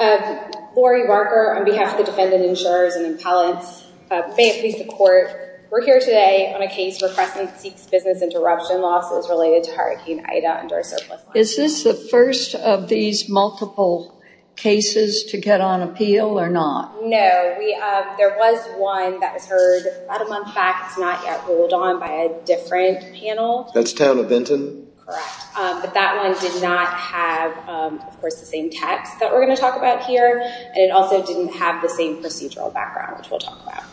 Lori Barker on behalf of the defendant, insurers, and appellants, please support. We're here today on a case where Crescent seeks business interruption losses related to Hurricane Ida under a surplus line. Is this the first of these multiple cases to get on appeal or not? No, there was one that was heard about a month back. It's not yet ruled on by a different panel. That's Town of Benton? Correct, but that one did not have, of course, the same text that we're going to talk about here, and it also didn't have the same procedural background, which we'll talk about.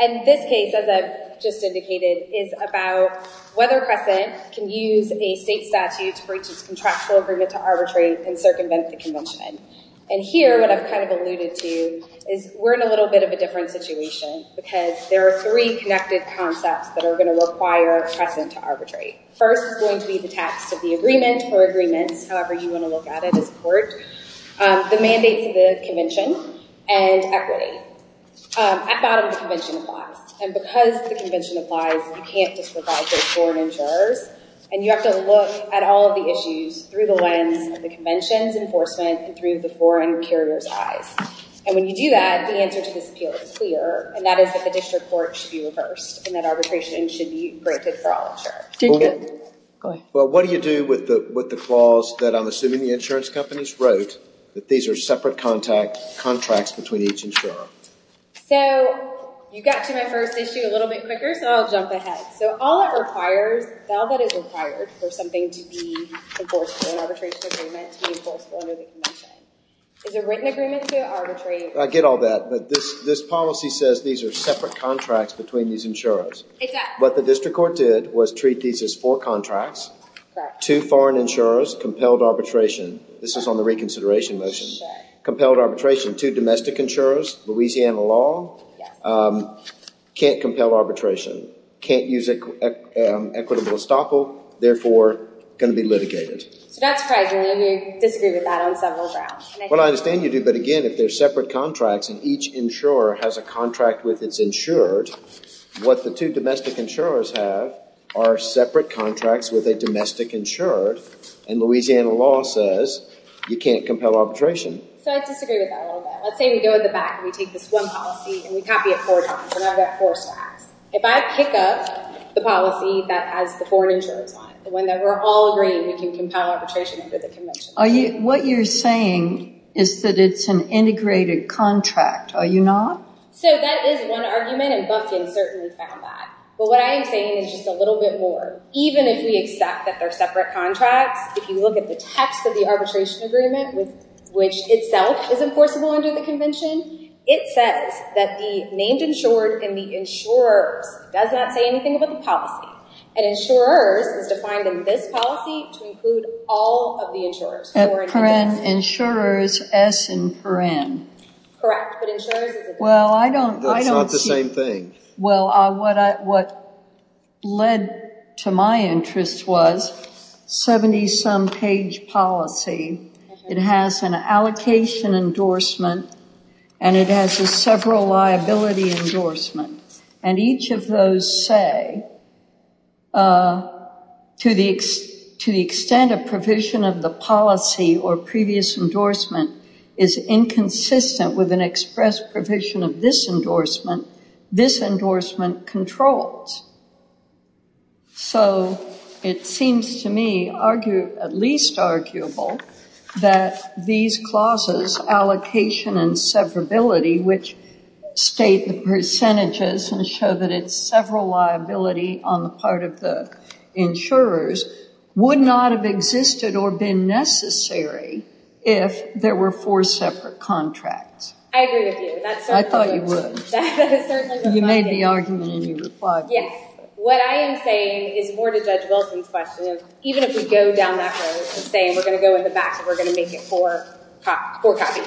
And this case, as I've just indicated, is about whether Crescent can use a state statute to breach its contractual agreement to arbitrate and circumvent the convention. And here, what I've kind of alluded to, is we're in a little bit of a different situation because there are three connected concepts that are going to require Crescent to arbitrate. First is going to be the text of the agreement or agreements, however you want to look at it as a court, the mandates of the convention, and equity. At bottom, the convention applies, and because the convention applies, you can't just provide those foreign insurers, and you have to look at all of the issues through the lens of the convention's enforcement and through the foreign carrier's eyes. And when you do that, the answer to this is clear, and that is that the district court should be reversed, and that arbitration should be granted for all insurers. Well, what do you do with the clause that I'm assuming the insurance companies wrote, that these are separate contracts between each insurer? So, you got to my first issue a little bit quicker, so I'll jump ahead. So, all it requires, all that is required for something to be enforceable, an arbitration agreement to be enforceable under the convention, is a written agreement to arbitrate. I get all that, but this policy says these are separate contracts between these insurers, but the district court did was treat these as four contracts, two foreign insurers, compelled arbitration, this is on the reconsideration motion, compelled arbitration, two domestic insurers, Louisiana law, can't compel arbitration, can't use an equitable estoppel, therefore going to be litigated. Well, I understand you do, but again, if they're separate contracts, and each insurer has a contract with its insured, what the two domestic insurers have are separate contracts with a domestic insured, and Louisiana law says you can't compel arbitration. So, I disagree with that a little bit. Let's say we go to the back, and we take this one policy, and we copy it four times, and I've got four stacks. If I pick up the policy that has the foreign insurers on it, the one that we're all agreeing we can compel arbitration under the convention. Are you, what you're saying is that it's an integrated contract, are you not? So, that is one argument, and Bufkin certainly found that, but what I am saying is just a little bit more. Even if we accept that they're separate contracts, if you look at the text of the arbitration agreement, which itself is enforceable under the convention, it says that the named insured and the insurers does not say anything about the policy, and insurers is defined in this policy to include all of the insurers. And insurers S and for N. Correct, but insurers is a different thing. Well, I don't see. It's not the same thing. Well, what led to my interest was 70-some page policy. It has an allocation endorsement, and it has a several liability endorsement, and each of those say, to the extent of provision of the policy, or previous endorsement is inconsistent with an express provision of this endorsement, this endorsement controls. So, it seems to me, at least arguable, that these clauses, allocation and severability, which state the percentages and show that it's several liability on the part of the insurers, would not have existed or been necessary if there were four separate contracts. I agree with you. I thought you would. You made the argument and you replied. Yes. What I am saying is more to Judge Wilson's question, even if we go down that road and say we're going to go in the back and we're going to make it four copies.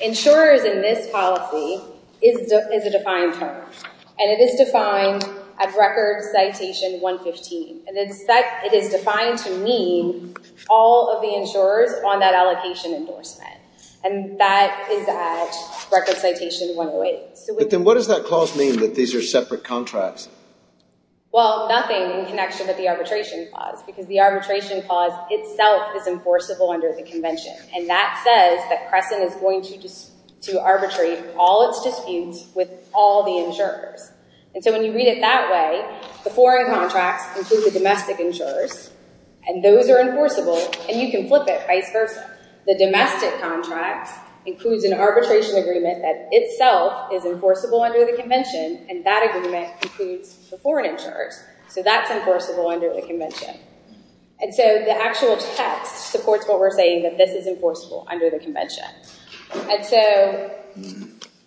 Insurers in this policy is a defined term, and it is defined at record citation 115, and it is defined to mean all of the insurers on that allocation endorsement. And that is at record citation 108. But then what does that clause mean, that these are separate contracts? Well, nothing in connection with the arbitration clause, because the arbitration clause itself is enforceable under the convention, and that says that Crescent is going to arbitrate all its disputes with all the insurers. And so, when you read it that way, the foreign contracts include the domestic insurers, and those are enforceable, and you can flip it vice versa. The domestic contract includes an arbitration agreement that itself is enforceable under the convention, and that agreement includes the foreign insurers. So, that's enforceable under the convention. And so, the actual text supports what we're saying, that this is enforceable under the convention. And so,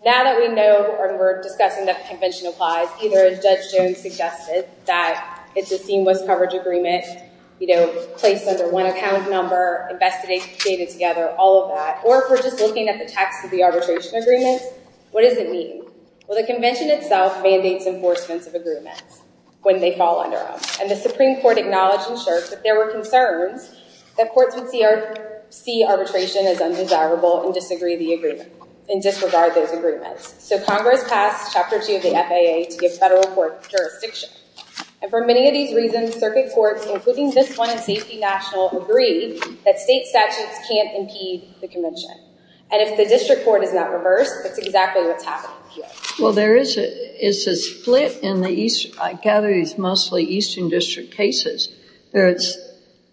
now that we know and we're discussing that the convention applies, either Judge Jones suggested that it's a seamless coverage agreement, you know, placed under one account number, investigated together, all of that, or if we're just looking at the text of the arbitration agreement, what does it mean? Well, the convention itself mandates enforcements of agreements when they fall under them. And the Supreme Court acknowledged and shared that there were concerns that courts would see arbitration as undesirable and disregard those agreements. So, Congress passed Chapter 2 of the FAA to give federal court jurisdiction. And for many of these reasons, circuit courts, including this one in Safety National, agreed that state statutes can't impede the convention. And if the district court is not reversed, that's exactly what's happening here. Well, there is a split in the east. I gather it's mostly eastern district cases. There's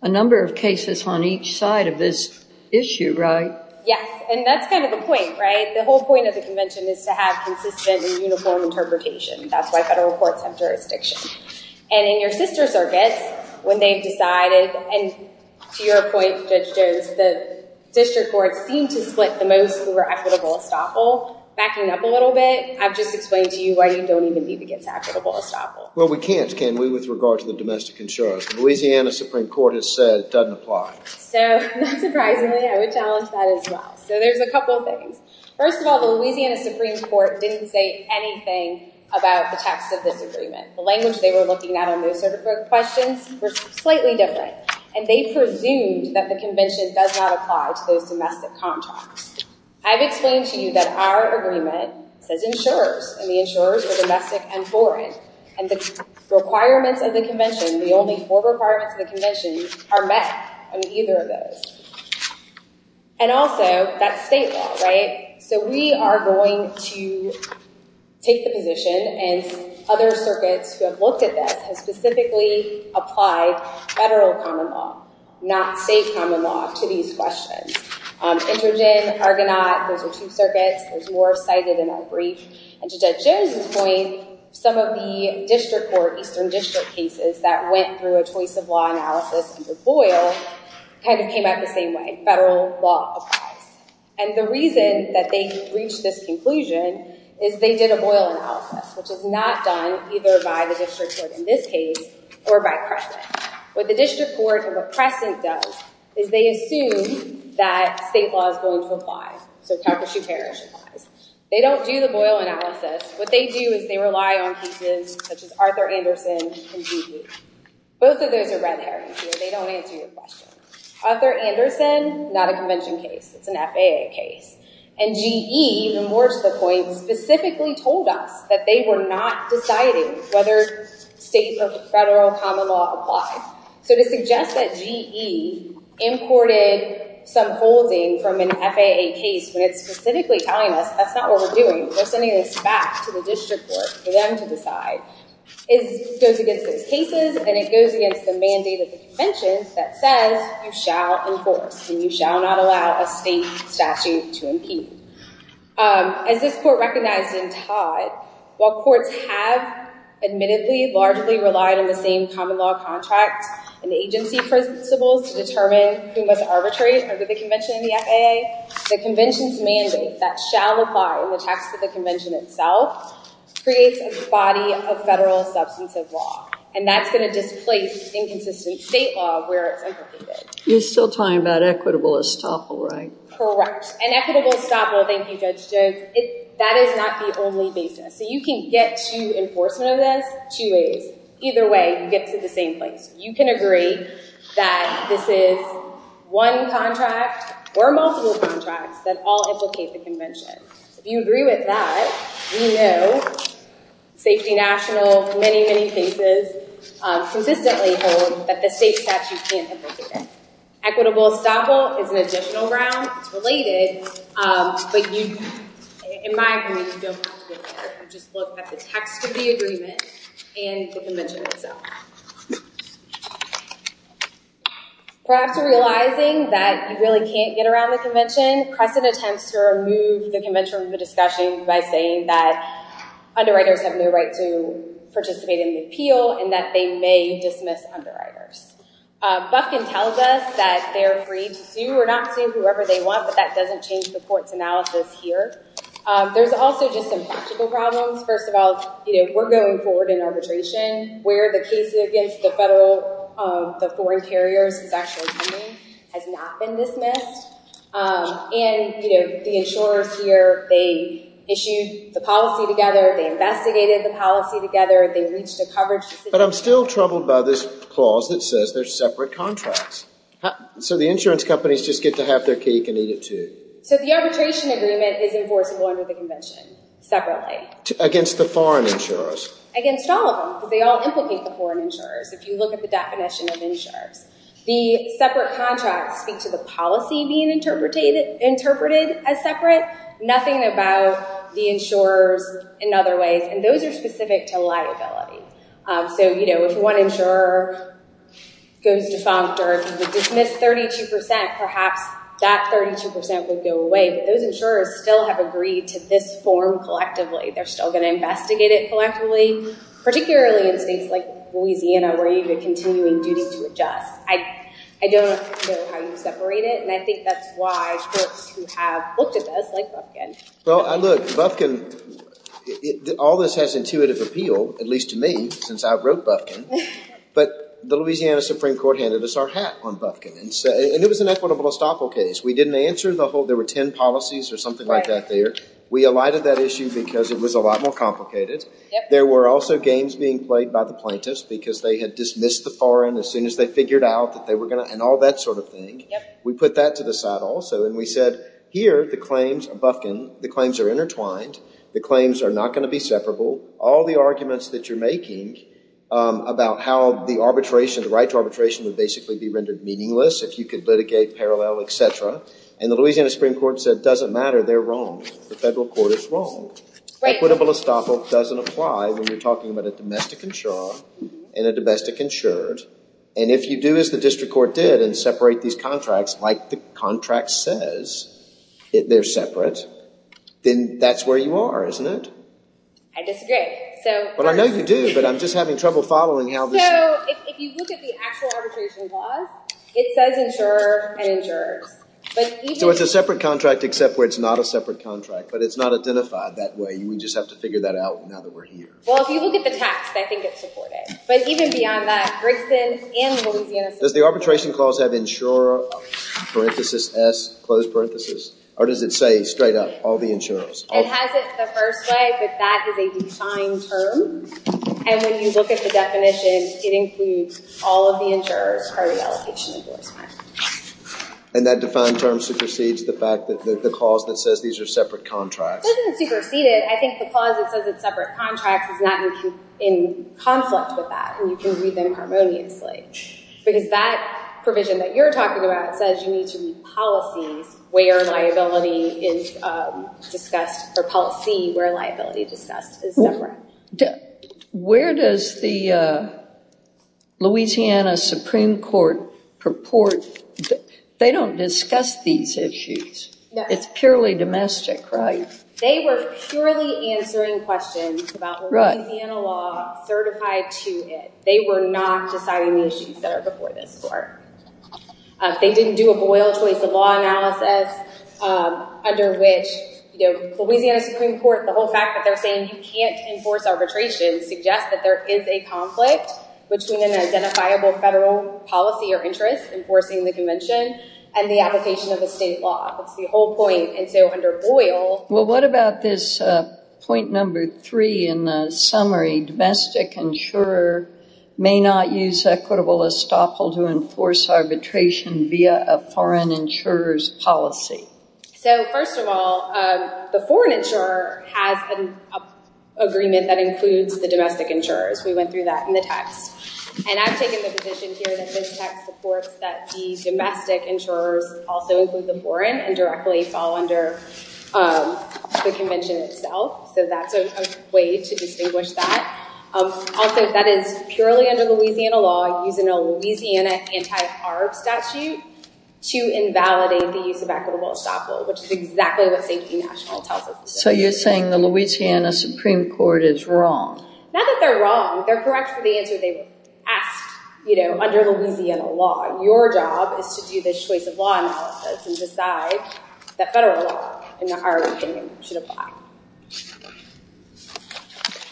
a number of cases on each side of this issue, right? Yes, and that's kind of the point, right? The whole point of the convention is to have consistent and uniform interpretation. That's why federal courts have jurisdiction. And in your sister circuits, when they've decided, and to your point, Judge Jones, the district courts seem to split the most who are equitable estoppel. Backing up a little bit, I've just explained to you why you don't even need to get to equitable estoppel. Well, we can't, can we, with regard to the domestic insurers? The Louisiana Supreme Court has said it doesn't apply. So, not surprisingly, I would challenge that as well. So, there's a couple of things. First of all, the Louisiana Supreme Court didn't say anything about the text of this agreement. The language they were looking at on those sort of questions was slightly different. And they presumed that the convention does not apply to those domestic contracts. I've explained to you that our agreement says insurers, and the insurers are domestic and foreign. And the requirements of the convention, the only four requirements of the convention, are met on either of those. And also, that's state law, right? So, we are going to take the position, and other circuits who have looked at this, have specifically applied federal common law, not state common law, to these questions. Intergen, Argonaut, those are two circuits. There's more cited in our brief. And to Judge Jones's point, some of the district court, eastern district cases, that went through a choice of law analysis under Boyle, kind of came out the same way. Federal law applies. And the reason that they reached this conclusion is they did a Boyle analysis, which is not done either by the district court in this case, or by Crescent. What the district court, and what Crescent does, is they assume that state law is going to apply. So, Calcasieu-Parrish applies. They don't do the Boyle analysis. What they do is they rely on pieces such as Arthur Anderson and Dewey. Both of those are red herrings here. They don't answer your question. Arthur Anderson, not a convention case. It's an FAA case. And GE, even more to the point, specifically told us that they were not deciding whether state or federal common law applied. So, to suggest that GE imported some holding from an FAA case, when it's specifically telling us that's not what we're doing, we're sending this back to the district court for them to decide, it goes against those cases, and it goes against the mandate of the convention that says you shall enforce, and you shall not allow a state statute to impede. As this court recognized in Todd, while courts have admittedly largely relied on the same common law contracts and agency principles to determine who must arbitrate under the convention in the FAA, the convention's mandate that shall apply in the text of the convention itself creates a body of federal substantive law, and that's going to displace inconsistent state law where it's implicated. You're still talking about equitable estoppel, right? Correct. And equitable estoppel, thank you, Judge Jones, that is not the only basis. So, you can get to enforcement of this two ways. Either way, you get to the same place. You can agree that this is one contract or multiple contracts that all implicate the convention. If you agree with that, we know safety national, many, many cases consistently hold that the state statute can't implicate it. Equitable estoppel is an additional ground. It's related, but in my opinion, you don't have to go there. You just look at the text of the agreement and the convention itself. Perhaps you're realizing that you really can't get around the convention. Crescent attempts to remove the convention from the discussion by saying that underwriters have no right to participate in the appeal and that they may dismiss underwriters. Bufkin tells us that they're free to sue or not sue whoever they want, but that doesn't change the court's analysis here. There's also just some practical problems. First of all, we're going forward in arbitration where the case against the foreign carriers is actually coming has not been dismissed. The insurers here, they issued the policy together. They investigated the policy together. They reached a coverage decision. But I'm still troubled by this clause that says there's separate contracts. The insurance companies just get to have their cake and eat it too. The arbitration agreement is enforceable under the convention separately. Against the foreign insurers? Against all of them because they all implicate the foreign insurers if you look at the definition of insurers. The separate contracts speak to the policy being interpreted as separate. Nothing about the insurers in other ways. And those are specific to liability. So, you know, if one insurer goes defunct or dismissed 32%, perhaps that 32% would go away. But those insurers still have agreed to this form collectively. They're still going to investigate it collectively, particularly in states like Louisiana where you have a continuing duty to adjust. I don't know how you separate it. And I think that's why courts who have looked at this, like Bufkin. Well, look, Bufkin, all this has intuitive appeal, at least to me, since I wrote Bufkin. But the Louisiana Supreme Court handed us our hat on Bufkin. And it was an equitable estoppel case. We didn't answer the whole, there were ten policies or something like that there. We alighted that issue because it was a lot more complicated. There were also games being played by the plaintiffs because they had dismissed the foreign as soon as they figured out that they were going to, and all that sort of thing. We put that to the side also. And we said, here, the claims of Bufkin, the claims are intertwined. The claims are not going to be separable. All the arguments that you're making about how the arbitration, the right to arbitration would basically be rendered meaningless if you could litigate parallel, et cetera. And the Louisiana Supreme Court said it doesn't matter. They're wrong. The federal court is wrong. Equitable estoppel doesn't apply when you're talking about a domestic insurer and a domestic insured. And if you do as the district court did and separate these contracts like the contract says, they're separate, then that's where you are, isn't it? I disagree. Well, I know you do, but I'm just having trouble following how this works. So if you look at the actual arbitration laws, it says insurer and insurers. So it's a separate contract except where it's not a separate contract, but it's not identified that way. We just have to figure that out now that we're here. Well, if you look at the text, I think it's supported. But even beyond that, Brixton and the Louisiana Supreme Court. Does the arbitration clause have insurer, parenthesis, S, close parenthesis? Or does it say straight up all the insurers? It has it the first way, but that is a defined term. And when you look at the definition, it includes all of the insurers prior to the allocation of divorce money. And that defined term supersedes the fact that the clause that says these are separate contracts? It doesn't supersede it. I think the clause that says it's separate contracts is not in conflict with that, and you can read them harmoniously. Because that provision that you're talking about says you need to read policies where liability is discussed, or policy where liability is discussed is separate. Where does the Louisiana Supreme Court purport? They don't discuss these issues. It's purely domestic, right? They were purely answering questions about Louisiana law certified to it. They were not deciding the issues that are before this court. They didn't do a Boyle choice of law analysis, under which, you know, Louisiana Supreme Court, the whole fact that they're saying you can't enforce arbitration suggests that there is a conflict between an identifiable federal policy or interest enforcing the convention and the application of a state law. That's the whole point. Well, what about this point number three in the summary, domestic insurer may not use equitable estoppel to enforce arbitration via a foreign insurer's policy? So, first of all, the foreign insurer has an agreement that includes the domestic insurers. We went through that in the text. And I've taken the position here that this text supports that the domestic insurers also include the foreign and directly fall under the convention itself. So that's a way to distinguish that. Also, that is purely under Louisiana law using a Louisiana anti-arb statute to invalidate the use of equitable estoppel, which is exactly what Safety National tells us. So you're saying the Louisiana Supreme Court is wrong? Not that they're wrong. They're correct for the answer they asked, you know, under Louisiana law. Your job is to do this choice of law analysis and decide that federal law and the IRB should apply.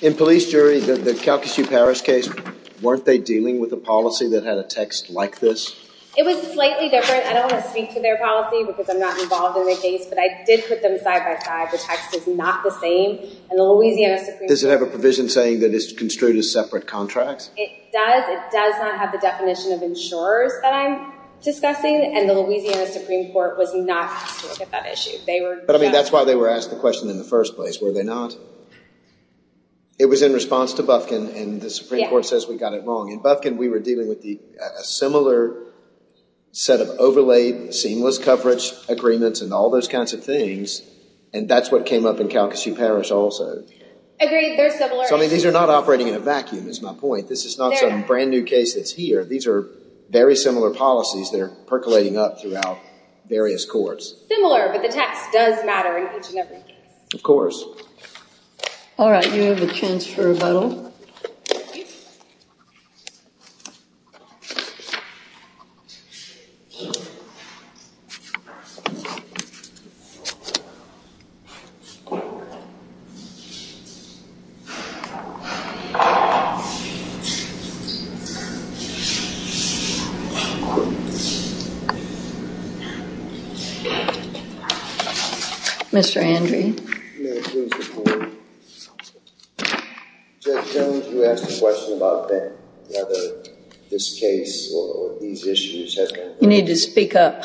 In police jury, the Calcasieu-Parrish case, weren't they dealing with a policy that had a text like this? It was slightly different. I don't want to speak to their policy because I'm not involved in the case, but I did put them side by side. The text is not the same. And the Louisiana Supreme Court— Does it have a provision saying that it's construed as separate contracts? It does. It does not have the definition of insurers that I'm discussing, and the Louisiana Supreme Court was not asked to look at that issue. But, I mean, that's why they were asked the question in the first place, were they not? It was in response to Bufkin, and the Supreme Court says we got it wrong. In Bufkin, we were dealing with a similar set of overlaid, seamless coverage agreements and all those kinds of things, and that's what came up in Calcasieu-Parrish also. Agreed, they're similar. So, I mean, these are not operating in a vacuum is my point. This is not some brand new case that's here. These are very similar policies that are percolating up throughout various courts. Similar, but the text does matter in each and every case. Of course. All right, you have a chance for a rebuttal. Mr. Andrew. May it please the Court. Judge Jones, you asked a question about whether this case or these issues have been addressed. You need to speak up.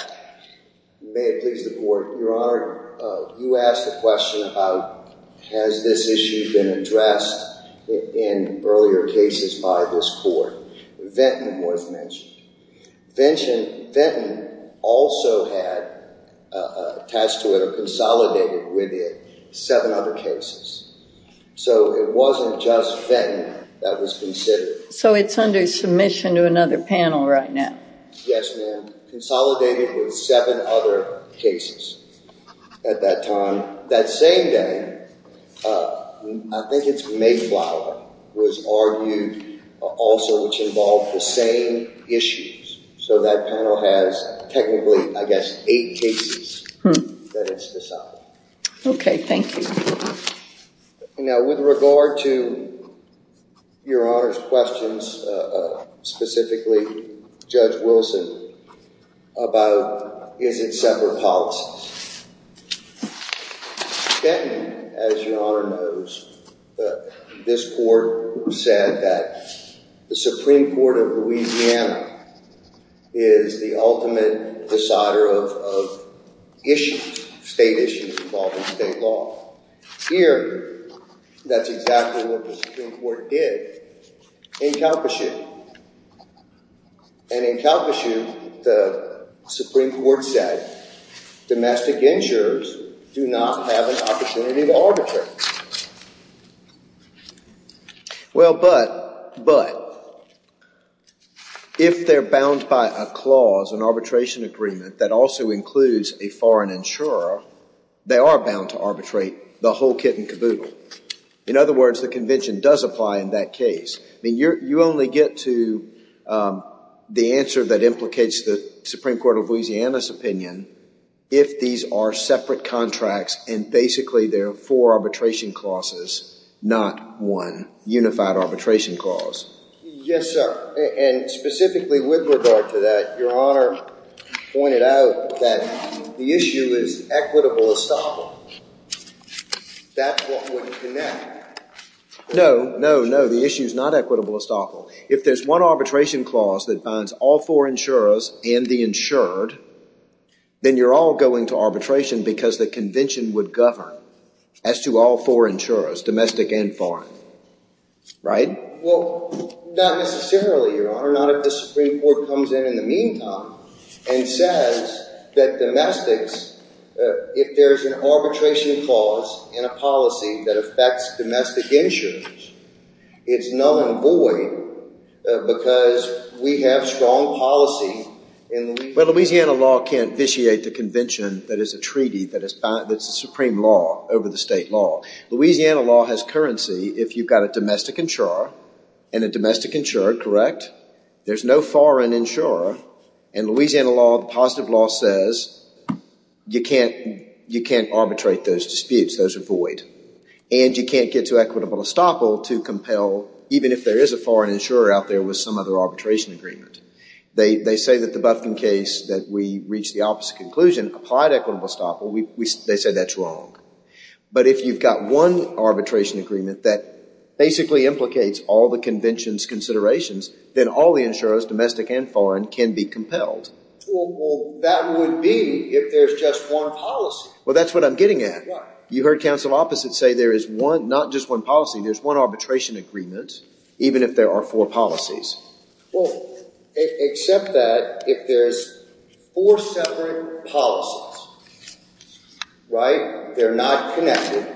May it please the Court. Your Honor, you asked a question about has this issue been addressed in earlier cases by the Supreme Court. Venton was mentioned. Venton also had attached to it or consolidated with it seven other cases. So, it wasn't just Venton that was considered. So, it's under submission to another panel right now. Yes, ma'am. Consolidated with seven other cases at that time. That same day, I think it's Mayflower, was argued also which involved the same issues. So, that panel has technically, I guess, eight cases that it's decided. Okay, thank you. Now, with regard to Your Honor's questions, specifically Judge Wilson, about is it separate policies. Then, as Your Honor knows, this Court said that the Supreme Court of Louisiana is the ultimate decider of issues, state issues involving state law. Here, that's exactly what the Supreme Court did in Calcasieu. And in Calcasieu, the Supreme Court said domestic insurers do not have an opportunity to arbitrate. Well, but if they're bound by a clause, an arbitration agreement that also includes a foreign insurer, they are bound to arbitrate the whole kit and caboodle. In other words, the convention does apply in that case. I mean, you only get to the answer that implicates the Supreme Court of Louisiana's opinion if these are separate contracts and basically there are four arbitration clauses, not one unified arbitration clause. Yes, sir. And specifically with regard to that, Your Honor pointed out that the issue is equitable estoppel. That's what would connect. No, no, no. The issue is not equitable estoppel. If there's one arbitration clause that binds all four insurers and the insured, then you're all going to arbitration because the convention would govern as to all four insurers, domestic and foreign. Right? Well, not necessarily, Your Honor. Not if the Supreme Court comes in in the meantime and says that domestics, if there's an arbitration clause in a policy that affects domestic insurers, it's null and void because we have strong policy in Louisiana. Well, Louisiana law can't vitiate the convention that is a treaty that's a supreme law over the state law. Louisiana law has currency if you've got a domestic insurer and a domestic insurer, correct? There's no foreign insurer. In Louisiana law, the positive law says you can't arbitrate those disputes. Those are void. And you can't get to equitable estoppel to compel even if there is a foreign insurer out there with some other arbitration agreement. They say that the Buffington case that we reached the opposite conclusion applied equitable estoppel. They say that's wrong. But if you've got one arbitration agreement that basically implicates all the convention's considerations, then all the insurers, domestic and foreign, can be compelled. Well, that would be if there's just one policy. Well, that's what I'm getting at. You heard counsel opposite say there is one, not just one policy, there's one arbitration agreement even if there are four policies. Well, except that if there's four separate policies, right, they're not connected,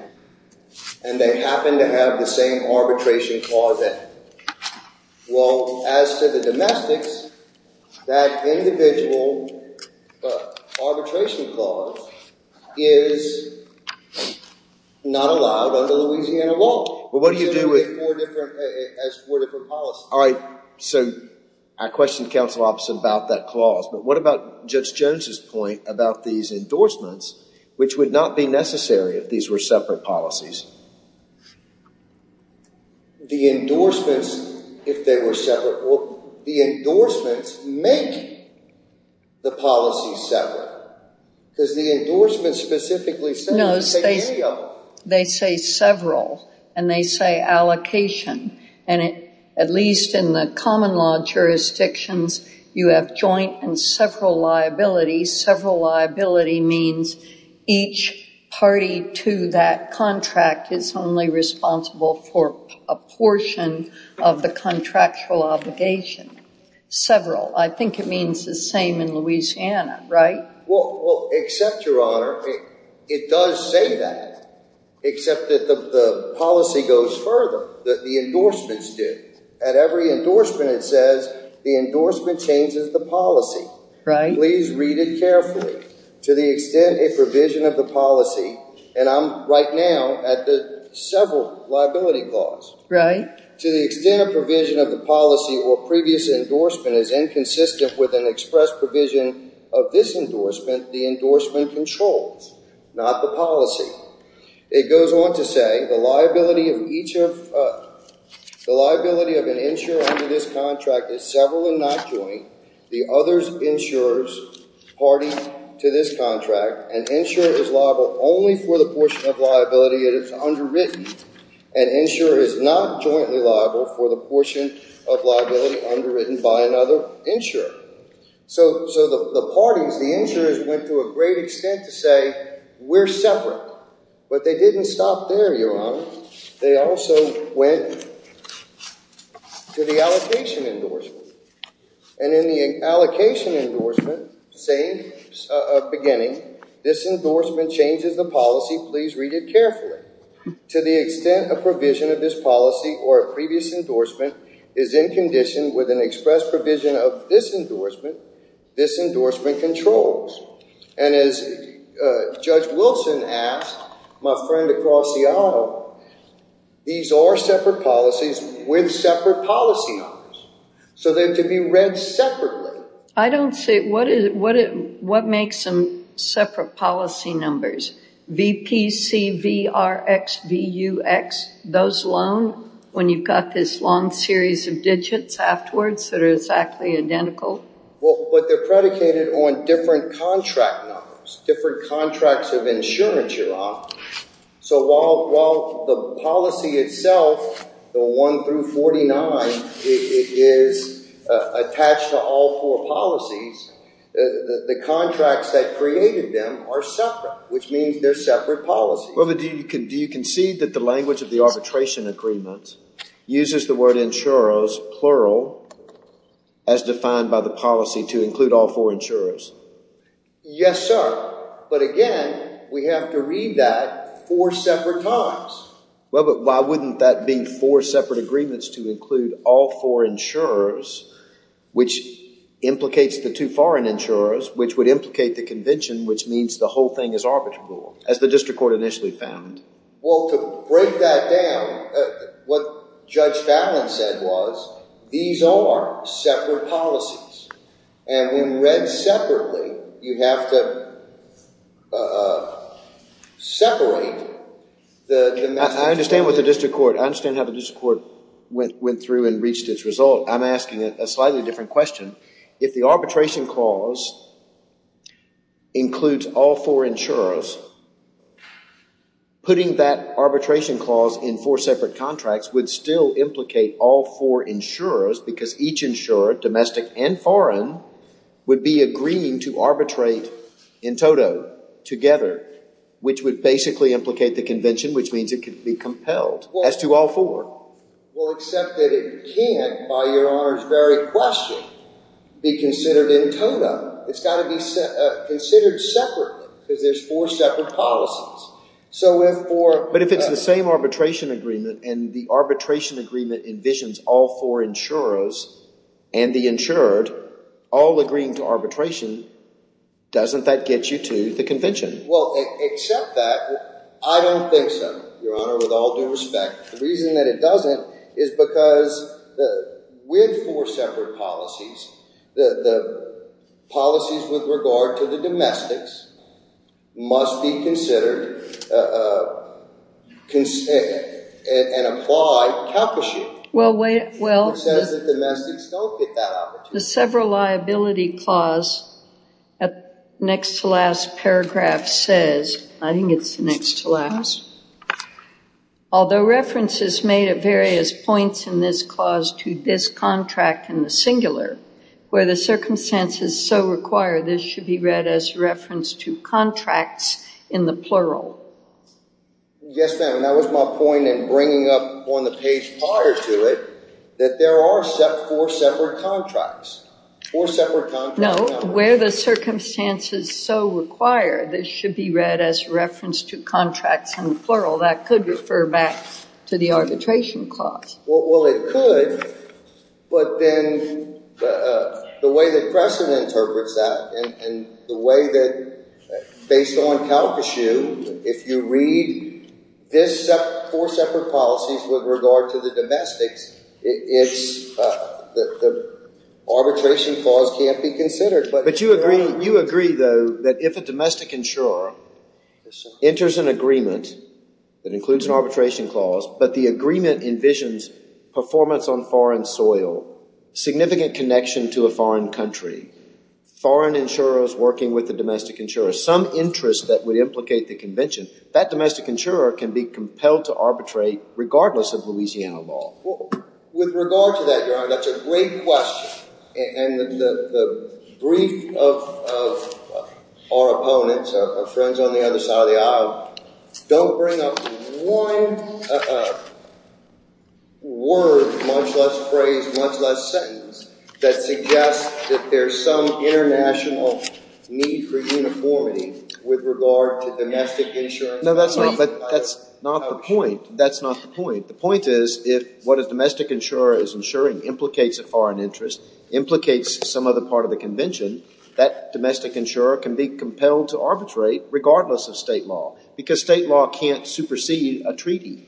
and they happen to have the same arbitration clause. Well, as to the domestics, that individual arbitration clause is not allowed under Louisiana law. Well, what do you do with it? It has four different policies. All right. So I questioned counsel opposite about that clause. But what about Judge Jones' point about these endorsements, which would not be necessary if these were separate policies? The endorsements, if they were separate, well, the endorsements make the policies separate. Because the endorsements specifically say they take care of you. They say several, and they say allocation. And at least in the common law jurisdictions, you have joint and several liabilities. Several liability means each party to that contract is only responsible for a portion of the contractual obligation. Several. I think it means the same in Louisiana, right? Well, except, Your Honor, it does say that, except that the policy goes further, that the endorsements do. At every endorsement, it says the endorsement changes the policy. Right. Please read it carefully. To the extent a provision of the policy, and I'm right now at the several liability clause. Right. To the extent a provision of the policy or previous endorsement is inconsistent with an express provision of this endorsement, the endorsement controls. Not the policy. It goes on to say the liability of each of, the liability of an insurer under this contract is several and not joint. The others insurers party to this contract. An insurer is liable only for the portion of liability that is underwritten. An insurer is not jointly liable for the portion of liability underwritten by another insurer. So the parties, the insurers went to a great extent to say we're separate. But they didn't stop there, Your Honor. They also went to the allocation endorsement. And in the allocation endorsement, same beginning, this endorsement changes the policy. Please read it carefully. To the extent a provision of this policy or a previous endorsement is in condition with an express provision of this endorsement, this endorsement controls. And as Judge Wilson asked, my friend across the aisle, these are separate policies with separate policy numbers. So they're to be read separately. I don't see, what makes them separate policy numbers? VPC, VRX, VUX, those alone when you've got this long series of digits afterwards that are exactly identical? Well, but they're predicated on different contract numbers, different contracts of insurance, Your Honor. So while the policy itself, the 1 through 49, is attached to all four policies, the contracts that created them are separate, which means they're separate policies. Well, but do you concede that the language of the arbitration agreement uses the word insurers, plural, as defined by the policy to include all four insurers? Yes, sir. But again, we have to read that four separate times. Well, but why wouldn't that mean four separate agreements to include all four insurers, which implicates the two foreign insurers, which would implicate the convention, which means the whole thing is arbitrable, as the district court initially found? Well, to break that down, what Judge Fallin said was, these are separate policies. And when read separately, you have to separate the domestic and foreign insurers. I understand what the district court – I understand how the district court went through and reached its result. I'm asking a slightly different question. If the arbitration clause includes all four insurers, putting that arbitration clause in four separate contracts would still implicate all four insurers because each insurer, domestic and foreign, would be agreeing to arbitrate in toto, together, which would basically implicate the convention, which means it could be compelled as to all four. Well, except that it can't, by Your Honor's very question, be considered in toto. It's got to be considered separately because there's four separate policies. So if four – But if it's the same arbitration agreement and the arbitration agreement envisions all four insurers and the insured all agreeing to arbitration, doesn't that get you to the convention? Well, except that, I don't think so, Your Honor, with all due respect. The reason that it doesn't is because with four separate policies, the policies with regard to the domestics must be considered and applied, calculated. Well, wait – well – It says that domestics don't get that opportunity. The several liability clause next to last paragraph says – I think it's next to last – although reference is made at various points in this clause to this contract in the singular, where the circumstances so require this should be read as reference to contracts in the plural. Yes, ma'am, and that was my point in bringing up on the page prior to it that there are four separate contracts. Four separate contracts. No, where the circumstances so require this should be read as reference to contracts in the plural. That could refer back to the arbitration clause. Well, it could, but then the way that Preston interprets that and the way that based on Calcasieu, if you read this – four separate policies with regard to the domestics, it's – the arbitration clause can't be considered. But you agree, though, that if a domestic insurer enters an agreement that includes an arbitration clause, but the agreement envisions performance on foreign soil, significant connection to a foreign country, foreign insurers working with the domestic insurer, some interest that would implicate the convention, that domestic insurer can be compelled to arbitrate regardless of Louisiana law. Well, with regard to that, Your Honor, that's a great question. And the brief of our opponents, our friends on the other side of the aisle, don't bring up one word, much less phrase, much less sentence, that suggests that there's some international need for uniformity with regard to domestic insurance. No, that's not the point. That's not the point. The point is if what a domestic insurer is insuring implicates a foreign interest, implicates some other part of the convention, that domestic insurer can be compelled to arbitrate regardless of state law because state law can't supersede a treaty.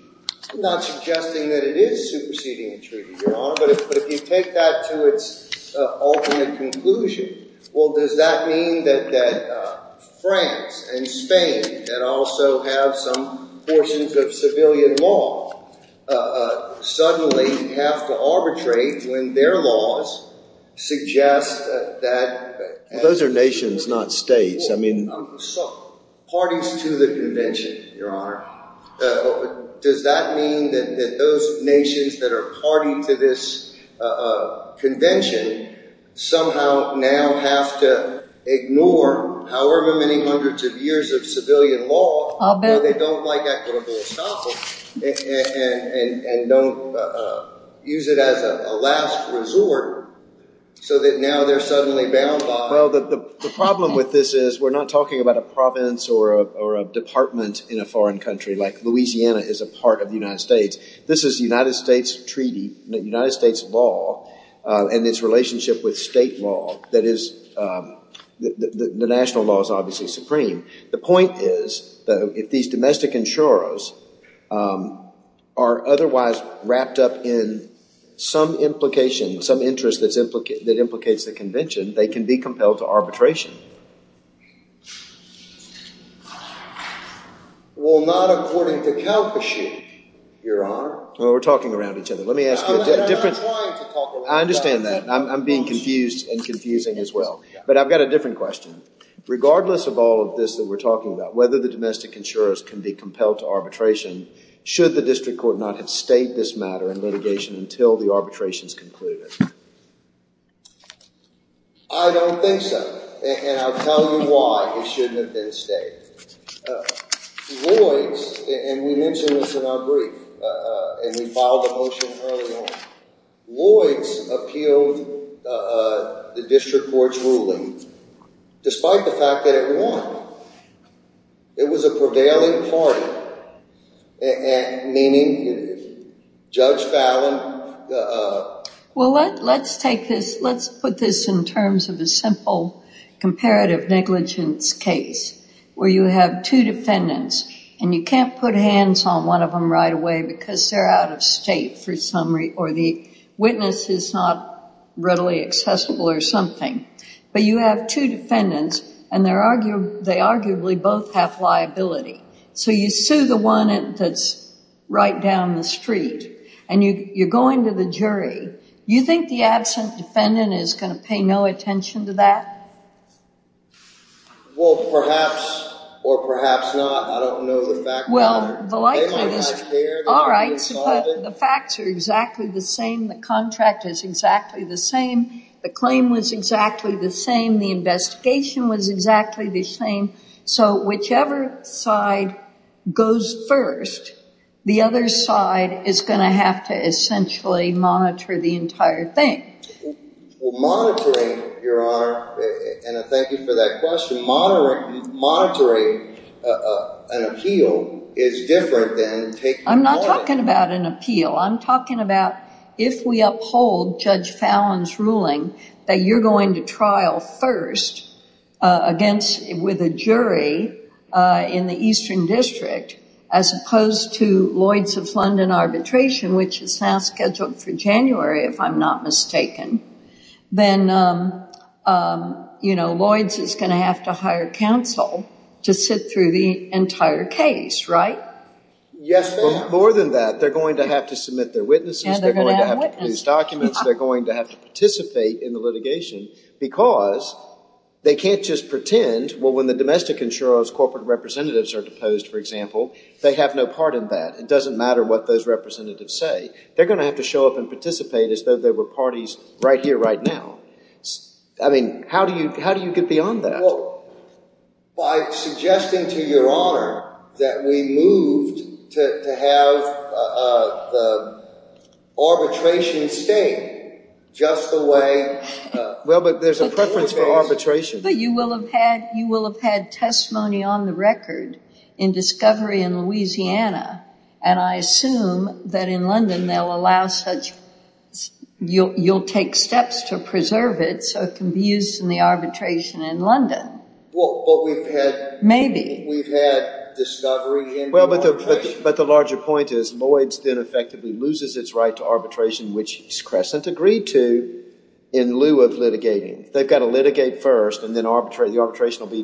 I'm not suggesting that it is superseding a treaty, Your Honor. But if you take that to its ultimate conclusion, well, does that mean that France and Spain that also have some portions of civilian law suddenly have to arbitrate when their laws suggest that – Those are nations, not states. I mean – Parties to the convention, Your Honor. Does that mean that those nations that are party to this convention somehow now have to ignore however many hundreds of years of civilian law – I'll bet. – where they don't like equitable assets and don't use it as a last resort so that now they're suddenly bound by – Well, the problem with this is we're not talking about a province or a department in a foreign country like Louisiana is a part of the United States. This is United States treaty, United States law, and its relationship with state law that is – the national law is obviously supreme. The point is that if these domestic insurers are otherwise wrapped up in some implication, some interest that implicates the convention, they can be compelled to arbitration. Well, not according to Calcashie, Your Honor. Well, we're talking around each other. Let me ask you a different – I'm trying to talk about that. I'm being confused and confusing as well, but I've got a different question. Regardless of all of this that we're talking about, whether the domestic insurers can be compelled to arbitration, should the district court not have stated this matter in litigation until the arbitrations concluded? I don't think so, and I'll tell you why it shouldn't have been stated. Lloyds – and we mentioned this in our brief, and we filed a motion early on – Lloyds appealed the district court's ruling despite the fact that it won. It was a prevailing party, meaning Judge Fallon – Well, let's take this – let's put this in terms of a simple comparative negligence case where you have two defendants, and you can't put hands on one of them right away because they're out of state or the witness is not readily accessible or something. But you have two defendants, and they arguably both have liability. So you sue the one that's right down the street, and you're going to the jury. You think the absent defendant is going to pay no attention to that? Well, perhaps or perhaps not. I don't know the fact of the matter. All right, but the facts are exactly the same. The contract is exactly the same. The claim was exactly the same. The investigation was exactly the same. So whichever side goes first, the other side is going to have to essentially monitor the entire thing. Well, monitoring, Your Honor – and I thank you for that question – monitoring an appeal is different than taking hold of it. Then, you know, Lloyds is going to have to hire counsel to sit through the entire case, right? Yes, ma'am. More than that, they're going to have to submit their witnesses. Yeah, they're going to have witnesses. They're going to have to produce documents. They're going to have to participate in the litigation because they can't just pretend. Well, when the domestic insurer's corporate representatives are deposed, for example, they have no part in that. It doesn't matter what those representatives say. They're going to have to show up and participate as though they were parties right here, right now. I mean, how do you get beyond that? Well, by suggesting to Your Honor that we moved to have the arbitration state just the way – Well, but there's a preference for arbitration. But you will have had testimony on the record in discovery in Louisiana, and I assume that in London they'll allow such – you'll take steps to preserve it so it can be used in the arbitration in London. Well, but we've had – Maybe. We've had discovery in – The arbitration will be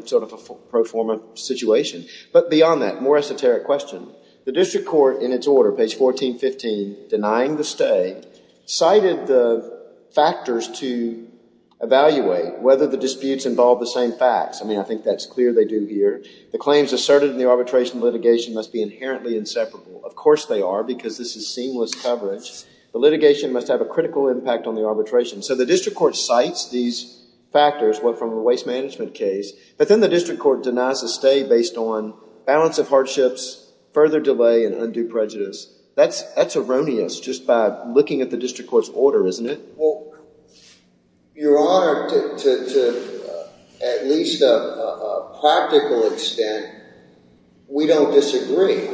sort of a pro forma situation. But beyond that, more esoteric question. The district court in its order, page 1415, denying the stay, cited the factors to evaluate whether the disputes involve the same facts. I mean, I think that's clear they do here. The claims asserted in the arbitration litigation must be inherently inseparable. Of course they are because this is seamless coverage. The litigation must have a critical impact on the arbitration. So the district court cites these factors from the waste management case, but then the district court denies the stay based on balance of hardships, further delay, and undue prejudice. That's erroneous just by looking at the district court's order, isn't it? Well, Your Honor, to at least a practical extent, we don't disagree.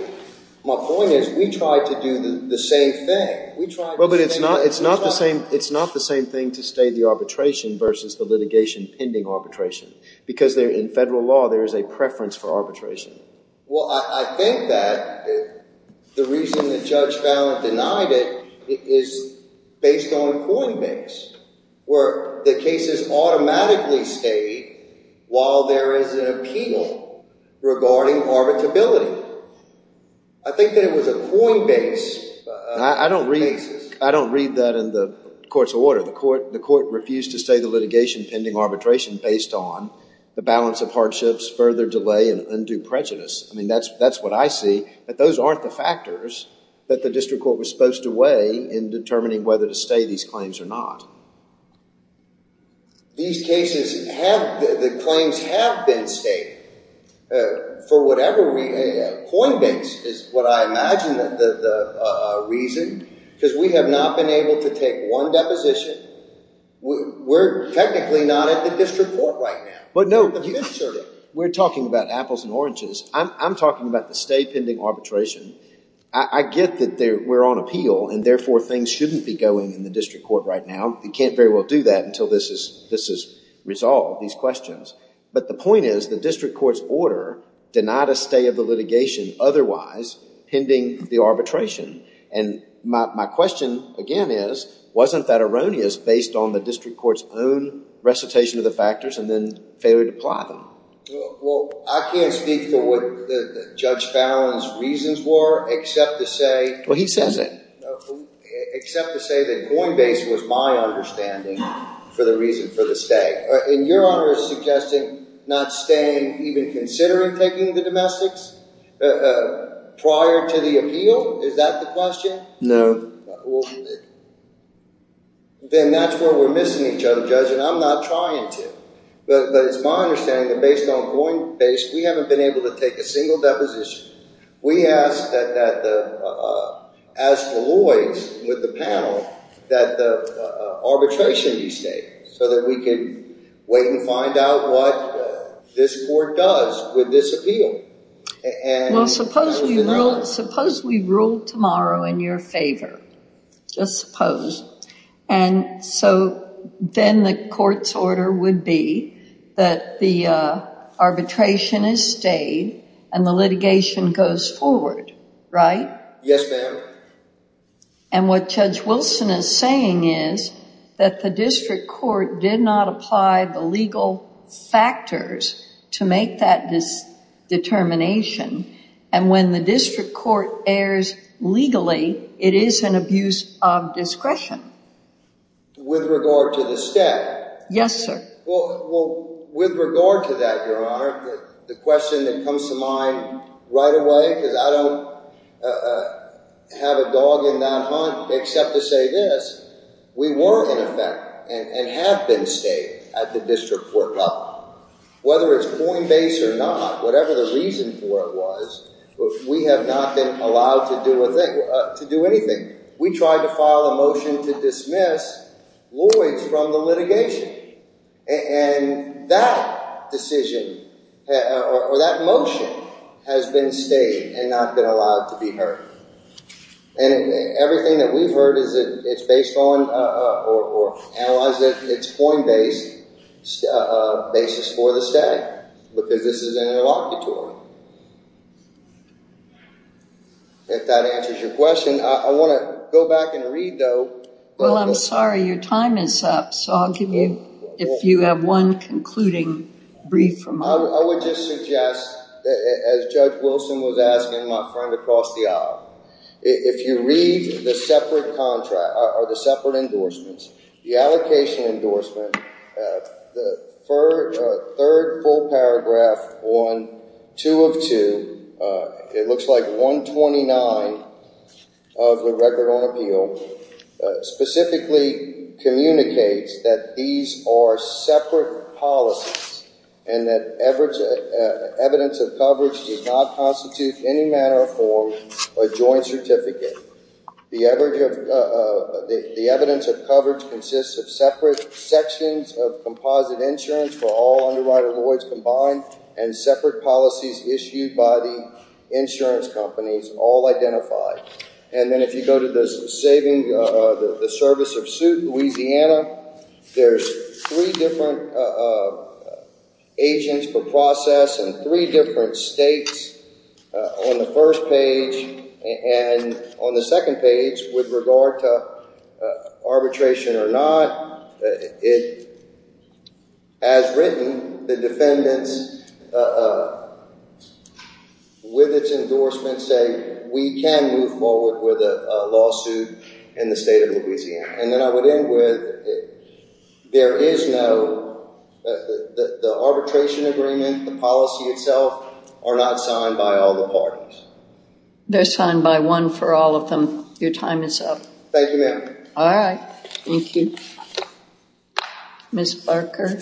My point is we try to do the same thing. We try – Well, but it's not the same thing to stay the arbitration versus the litigation pending arbitration because in federal law there is a preference for arbitration. Well, I think that the reason that Judge Fallon denied it is based on a coinbase where the case is automatically stayed while there is an appeal regarding arbitrability. I think that it was a coinbase basis. I don't read that in the court's order. The court refused to stay the litigation pending arbitration based on the balance of hardships, further delay, and undue prejudice. I mean, that's what I see. But those aren't the factors that the district court was supposed to weigh in determining whether to stay these claims or not. These cases have – the claims have been stayed for whatever – coinbase is what I imagine the reason because we have not been able to take one deposition. We're technically not at the district court right now. But no, we're talking about apples and oranges. I'm talking about the stay pending arbitration. I get that we're on appeal and therefore things shouldn't be going in the district court right now. You can't very well do that until this is resolved, these questions. But the point is the district court's order denied a stay of the litigation otherwise pending the arbitration. And my question, again, is wasn't that erroneous based on the district court's own recitation of the factors and then failure to apply them? Well, I can't speak for what Judge Fallon's reasons were except to say – Well, he says it. Except to say that coinbase was my understanding for the reason for the stay. And Your Honor is suggesting not staying, even considering taking the domestics prior to the appeal? Is that the question? No. Then that's where we're missing each other, Judge, and I'm not trying to. But it's my understanding that based on coinbase, we haven't been able to take a single deposition. We ask that the – ask Deloitte with the panel that the arbitration be stayed so that we can wait and find out what this court does with this appeal. Well, suppose we ruled tomorrow in your favor. Just suppose. And so then the court's order would be that the arbitration is stayed and the litigation goes forward, right? Yes, ma'am. And what Judge Wilson is saying is that the district court did not apply the legal factors to make that determination. And when the district court errs legally, it is an abuse of discretion. With regard to the stay? Yes, sir. Well, with regard to that, Your Honor, the question that comes to mind right away, because I don't have a dog in that hunt except to say this. We were, in effect, and have been staying at the district court level. Whether it's coinbase or not, whatever the reason for it was, we have not been allowed to do a thing – to do anything. We tried to file a motion to dismiss Lloyds from the litigation. And that decision, or that motion, has been stayed and not been allowed to be heard. And everything that we've heard is that it's based on, or analyzes that it's coinbase basis for the stay, because this is an interlocutory. If that answers your question. I want to go back and read, though. Well, I'm sorry. Your time is up. So, I'll give you, if you have one concluding brief remark. I would just suggest, as Judge Wilson was asking my friend across the aisle, if you read the separate contract, or the separate endorsements, the allocation endorsement, the third full paragraph on 2 of 2, it looks like 129 of the Record on Appeal, specifically communicates that these are separate policies and that evidence of coverage does not constitute any manner or form a joint certificate. The evidence of coverage consists of separate sections of composite insurance for all underwriter Lloyds combined, and separate policies issued by the insurance companies, all identified. And then if you go to the service of suit, Louisiana, there's three different agents for process and three different states on the first page. And on the second page, with regard to arbitration or not, it has written the defendants with its endorsements saying, we can move forward with a lawsuit in the state of Louisiana. And then I would end with, there is no, the arbitration agreement, the policy itself, are not signed by all the parties. They're signed by one for all of them. Your time is up. Thank you, ma'am. All right. Thank you. Ms. Barker.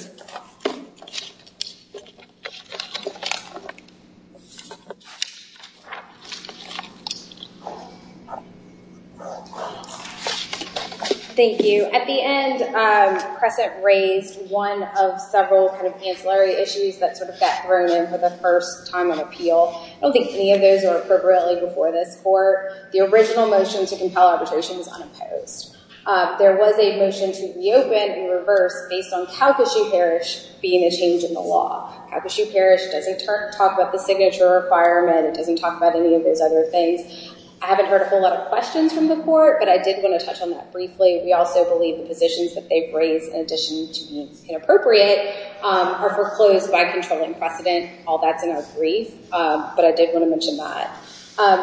Thank you. At the end, Crescent raised one of several kind of ancillary issues that sort of got thrown in for the first time on appeal. I don't think any of those were appropriately before this court. The original motion to compel arbitration was unopposed. There was a motion to reopen and reverse based on Calcasieu Parish being a change in the law. Calcasieu Parish doesn't talk about the signature requirement. It doesn't talk about any of those other things. I haven't heard a whole lot of questions from the court, but I did want to touch on that briefly. We also believe the positions that they've raised, in addition to being inappropriate, are foreclosed by controlling precedent. All that's in our brief. But I did want to mention that.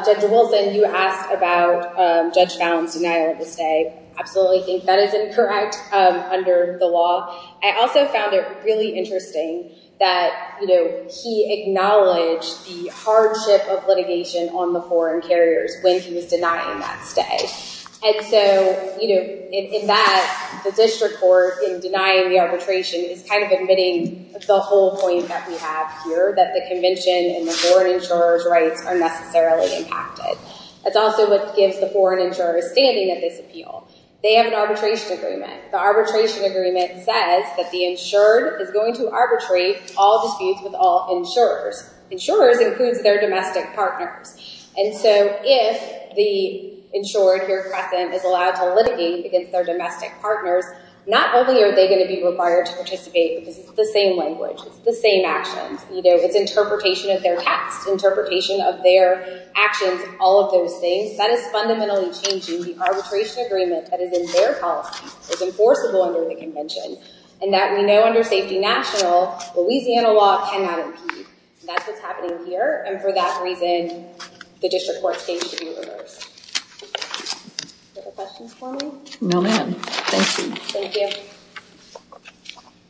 Judge Wilson, you asked about Judge Bowne's denial of the stay. I absolutely think that is incorrect under the law. I also found it really interesting that, you know, he acknowledged the hardship of litigation on the foreign carriers when he was denying that stay. And so, you know, in that, the district court, in denying the arbitration, is kind of admitting the whole point that we have here, that the convention and the foreign insurer's rights are necessarily impacted. That's also what gives the foreign insurers standing at this appeal. They have an arbitration agreement. The arbitration agreement says that the insured is going to arbitrate all disputes with all insurers. Insurers includes their domestic partners. And so, if the insured here, Crescent, is allowed to litigate against their domestic partners, not only are they going to be required to participate because it's the same language, it's the same actions. You know, it's interpretation of their text, interpretation of their actions, all of those things. That is fundamentally changing the arbitration agreement that is in their policy. It's enforceable under the convention. And that we know under safety national, Louisiana law cannot impede. That's what's happening here. And for that reason, the district court's case should be reversed. Do you have questions for me? No, ma'am. Thank you. Thank you.